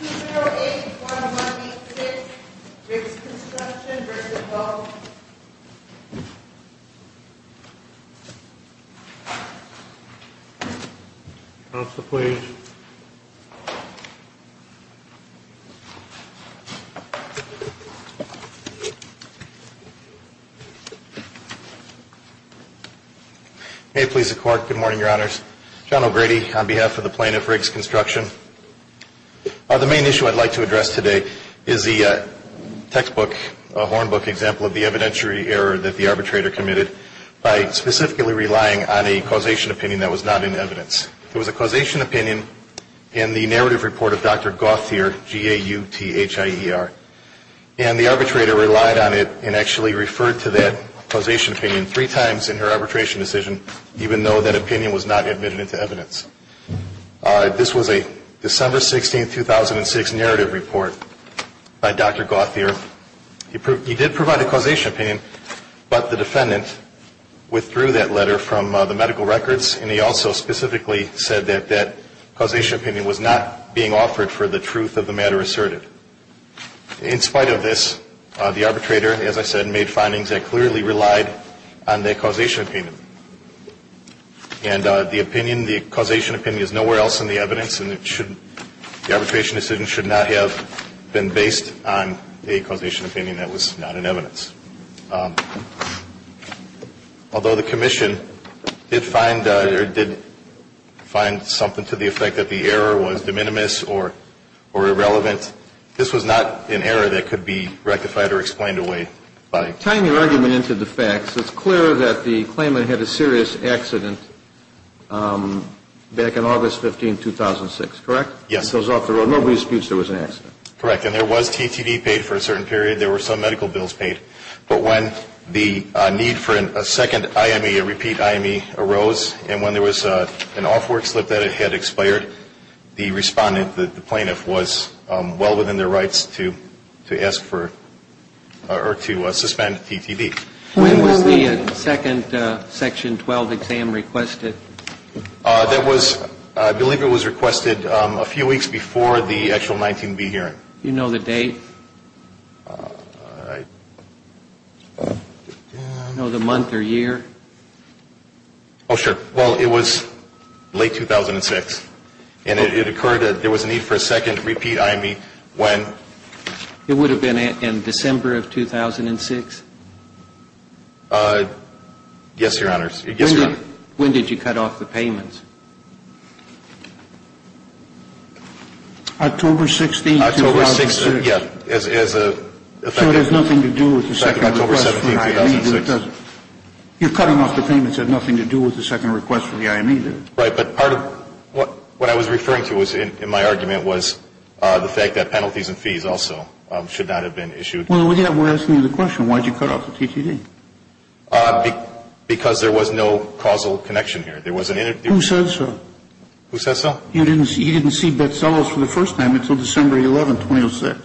208-1186 Riggs Construction v. Gov. May it please the Court, good morning, Your Honors. John O'Grady on behalf of the Plaintiff, Riggs Construction. The main issue I'd like to address today is the textbook, a hornbook example of the evidentiary error that the arbitrator committed by specifically relying on a causation opinion that was not in evidence. It was a causation opinion in the narrative report of Dr. Gauthier, G-A-U-T-H-I-E-R. And the arbitrator relied on it and actually referred to that causation opinion three times in her arbitration decision, even though that opinion was not admitted into evidence. This was a December 16, 2006, narrative report by Dr. Gauthier. He did provide a causation opinion, but the defendant withdrew that letter from the medical records, and he also specifically said that that causation opinion was not being offered for the truth of the matter asserted. In spite of this, the arbitrator, as I said, made findings that clearly relied on that causation opinion. And the opinion, the causation opinion is nowhere else in the evidence, and the arbitration decision should not have been based on a causation opinion that was not in evidence. Although the commission did find something to the effect that the error was de minimis or irrelevant, this was not an error that could be rectified or explained away by. Tying your argument into the facts, it's clear that the claimant had a serious accident back in August 15, 2006. Correct? Yes. It goes off the road. Nobody disputes there was an accident. Correct. And there was TTV paid for a certain period. There were some medical bills paid. But when the need for a second IME, a repeat IME, arose, and when there was an off work slip that it had expired, the respondent, the plaintiff, was well within their rights to ask for or to suspend TTV. When was the second Section 12 exam requested? That was, I believe it was requested a few weeks before the actual 19B hearing. Do you know the date? I don't know. Do you know the month or year? Oh, sure. Well, it was late 2006. And it occurred that there was a need for a second repeat IME when? It would have been in December of 2006? Yes, Your Honors. Yes, Your Honor. When did you cut off the payments? October 16, 2006. October 16, yeah. So it has nothing to do with the second request. It has nothing to do with the second request for the IME. Right. But part of what I was referring to in my argument was the fact that penalties and fees also should not have been issued. Well, we're asking you the question. Why did you cut off the TTD? Because there was no causal connection here. There wasn't any. Who said so? Who said so? You didn't see Betzelos for the first time until December 11, 2006,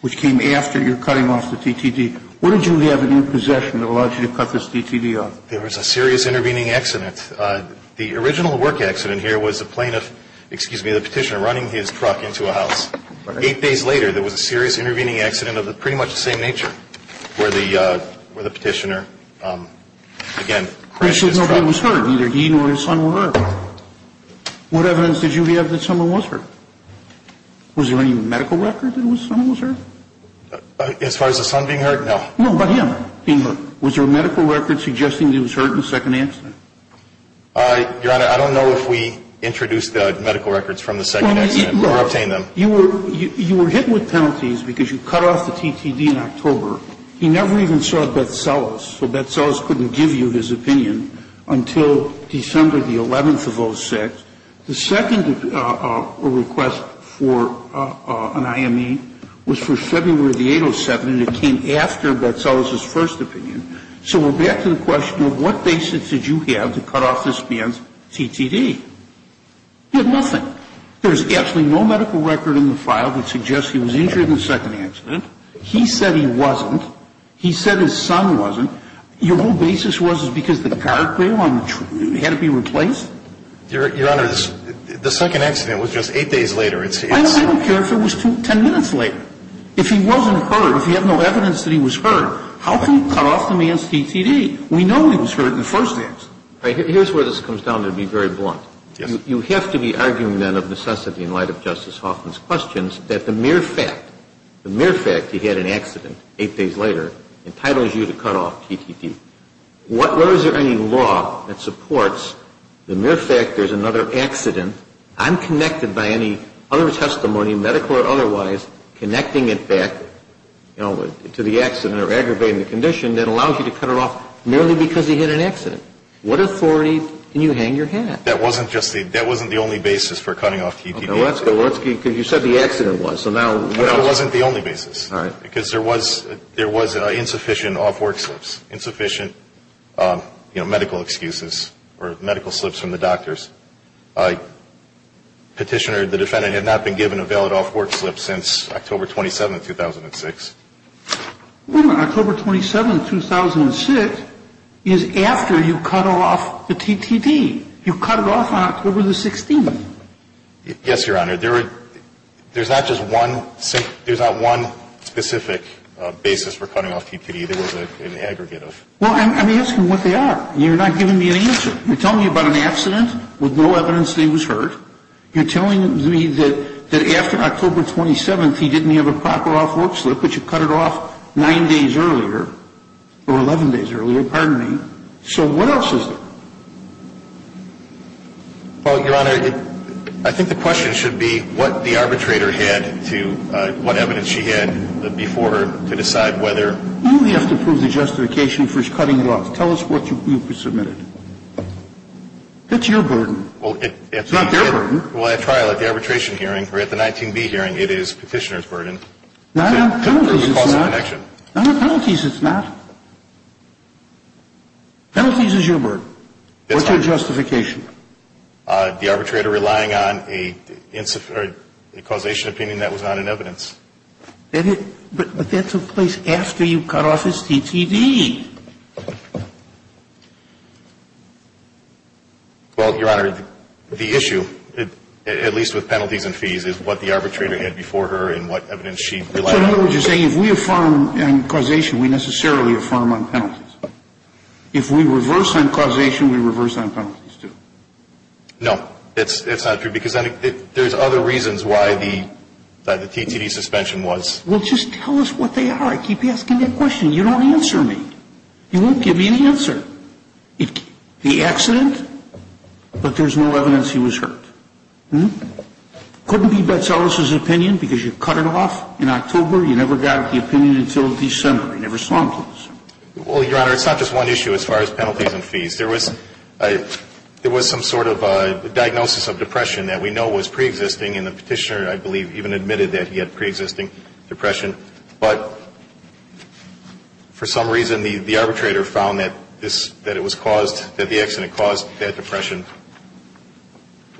which came after your cutting off the TTD. What did you have in your possession that allowed you to cut this TTD off? There was a serious intervening accident. The original work accident here was the plaintiff, excuse me, the petitioner running his truck into a house. Eight days later, there was a serious intervening accident of pretty much the same nature, where the petitioner, again, crashed his truck. He said nobody was hurt, neither he nor his son were hurt. What evidence did you have that someone was hurt? Was there any medical record that someone was hurt? As far as the son being hurt, no. No, but him being hurt. Was there a medical record suggesting he was hurt in the second accident? Your Honor, I don't know if we introduced the medical records from the second accident or obtained them. You were hit with penalties because you cut off the TTD in October. He never even saw Betzelos, so Betzelos couldn't give you his opinion until December the 11th of 06. The second request for an IME was for February the 8th of 07, and it came after Betzelos' first opinion. So we're back to the question of what basis did you have to cut off this man's TTD? You had nothing. There's absolutely no medical record in the file that suggests he was injured in the second accident. He said he wasn't. He said his son wasn't. Your whole basis was because the guardrail on the truck had to be replaced? Your Honor, the second accident was just eight days later. I don't care if it was 10 minutes later. If he wasn't hurt, if you have no evidence that he was hurt, how can you cut off the man's TTD? We know he was hurt in the first accident. Here's where this comes down to be very blunt. Yes. You have to be arguing then of necessity in light of Justice Hoffman's questions that the mere fact, the mere fact he had an accident eight days later entitles you to cut off TTD. Where is there any law that supports the mere fact there's another accident, unconnected by any other testimony, medical or otherwise, connecting it back, you know, to the accident or aggravating the condition that allows you to cut it off merely because he had an accident? What authority can you hang your hat? That wasn't just the – that wasn't the only basis for cutting off TTD. Okay. Well, let's – because you said the accident was. So now – No, it wasn't the only basis. All right. Because there was – there was insufficient off-work slips, insufficient, you know, medical excuses or medical slips from the doctors. Petitioner, the defendant, had not been given a valid off-work slip since October 27, 2006. Wait a minute. October 27, 2006 is after you cut off the TTD. You cut it off on October the 16th. Yes, Your Honor. Well, I'm asking what they are. You're not giving me an answer. You're telling me about an accident with no evidence that he was hurt. You're telling me that after October 27th, he didn't have a proper off-work slip, but you cut it off 9 days earlier, or 11 days earlier, pardon me. So what else is there? Well, Your Honor, I think the question should be, what the arbitrator had to – what evidence she had before her to decide whether – You only have to prove the justification for cutting it off. Tell us what you submitted. That's your burden. Well, it – It's not your burden. Well, at trial, at the arbitration hearing, or at the 19B hearing, it is Petitioner's burden. No, no. Penalties, it's not. Penalties, it's not. Penalties is your burden. What's your justification? The arbitrator relying on a causation opinion that was not in evidence. But that took place after you cut off his TTD. Well, Your Honor, the issue, at least with penalties and fees, is what the arbitrator had before her and what evidence she relied on. So I know what you're saying. If we affirm causation, we necessarily affirm on penalties. If we reverse on causation, we reverse on penalties too. No. It's not true because there's other reasons why the TTD suspension was – Well, just tell us what they are. I keep asking that question. You don't answer me. You won't give me an answer. The accident, but there's no evidence he was hurt. Couldn't be Betzelos's opinion because you cut it off in October. You never got the opinion until December. You never saw him. Well, Your Honor, it's not just one issue as far as penalties and fees. There was some sort of diagnosis of depression that we know was preexisting, and the petitioner, I believe, even admitted that he had preexisting depression. But for some reason, the arbitrator found that it was caused – that the accident caused that depression.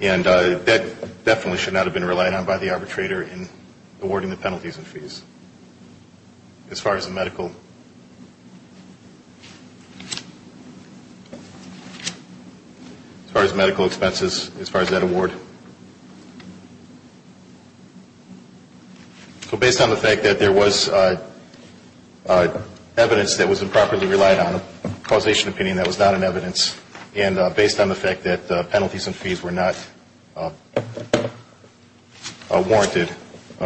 And that definitely should not have been relied on by the arbitrator in awarding the penalties and fees as far as the medical. As far as medical expenses, as far as that award. So based on the fact that there was evidence that was improperly relied on, causation opinion, that was not in evidence, and based on the fact that penalties and fees were not warranted,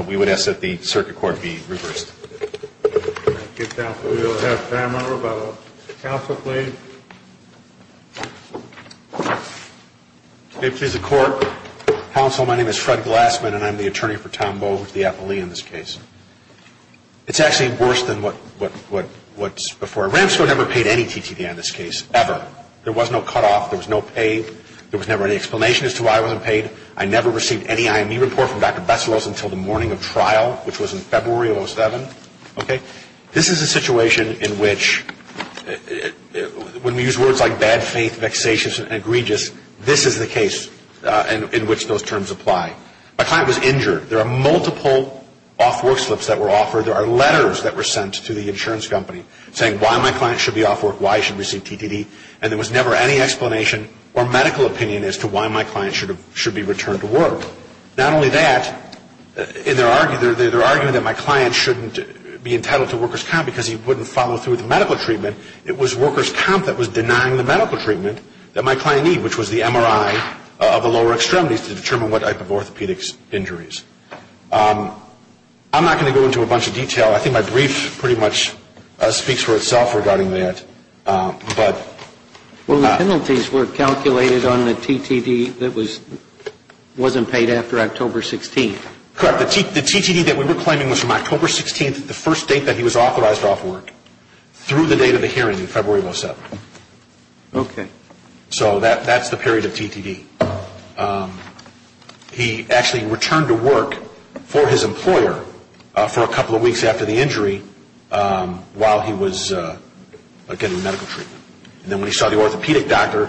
we would ask that the circuit court be reversed. Thank you, counsel. We will have time now for counsel, please. May it please the Court. Counsel, my name is Fred Glassman, and I'm the attorney for Tom Bowe, who's the affilee in this case. It's actually worse than what's before. Ramsfield never paid any TTA in this case, ever. There was no cutoff. There was no pay. There was never any explanation as to why I wasn't paid. I never received any IME report from Dr. Besseros until the morning of trial, which was in February of 2007. Okay? This is a situation in which, when we use words like bad faith, vexatious, and egregious, this is the case in which those terms apply. My client was injured. There are multiple off-work slips that were offered. There are letters that were sent to the insurance company saying why my client should be off work, why he should receive TTD, and there was never any explanation or medical opinion as to why my client should be returned to work. Not only that, in their argument that my client shouldn't be entitled to workers' comp because he wouldn't follow through with medical treatment, it was workers' comp that was denying the medical treatment that my client needed, which was the MRI of the lower extremities to determine what type of orthopedic injuries. I'm not going to go into a bunch of detail. I think my brief pretty much speaks for itself regarding that. Well, the penalties were calculated on the TTD that wasn't paid after October 16th. Correct. The TTD that we were claiming was from October 16th, the first date that he was authorized off work, through the date of the hearing in February of 2007. Okay. So that's the period of TTD. He actually returned to work for his employer for a couple of weeks after the injury while he was, again, in medical treatment. And then when he saw the orthopedic doctor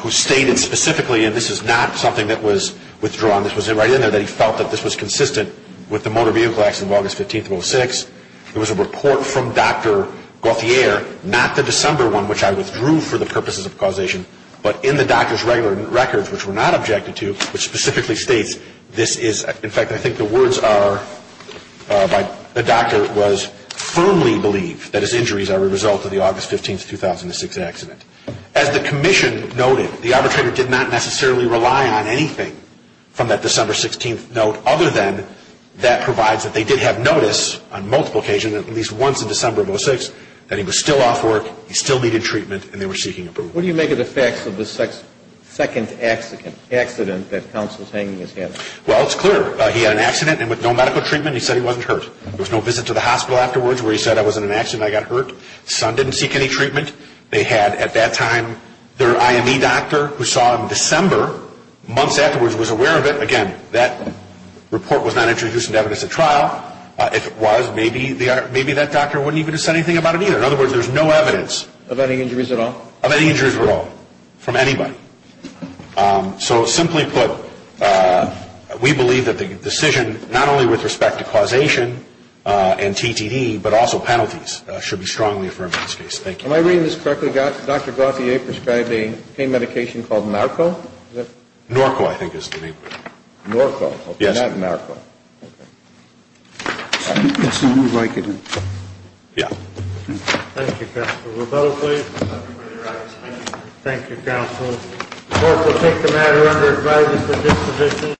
who stated specifically, and this is not something that was withdrawn, this was right in there, that he felt that this was consistent with the Motor Vehicle Acts of August 15th, 2006, there was a report from Dr. Gauthier, not the December one, which I withdrew for the purposes of causation, but in the doctor's regular records, which were not objected to, which specifically states this is, in fact, I think the words are by the doctor was firmly believe that his injuries are a result of the August 15th, 2006 accident. As the commission noted, the arbitrator did not necessarily rely on anything from that December 16th note, other than that provides that they did have notice on multiple occasions, at least once in December of 2006, that he was still off work, he still needed treatment, and they were seeking approval. What do you make of the facts of the second accident that counsel's hanging his head? Well, it's clear. He had an accident, and with no medical treatment, he said he wasn't hurt. There was no visit to the hospital afterwards where he said, I was in an accident, I got hurt. His son didn't seek any treatment. They had, at that time, their IME doctor, who saw him in December, months afterwards was aware of it. Again, that report was not introduced into evidence at trial. If it was, maybe that doctor wouldn't even have said anything about it either. In other words, there's no evidence. Of any injuries at all? Of any injuries at all, from anybody. So simply put, we believe that the decision, not only with respect to causation and TTD, but also penalties should be strongly affirmed in this case. Thank you. Am I reading this correctly, Dr. Gauthier prescribed a pain medication called Narco? Narco, I think is the name. Narco. Yes. Okay, not Narco. Yes, I would like it. Yeah. Thank you, Counsel. Roberto, please. Thank you, Counsel. Court will take the matter under advisory for disposition.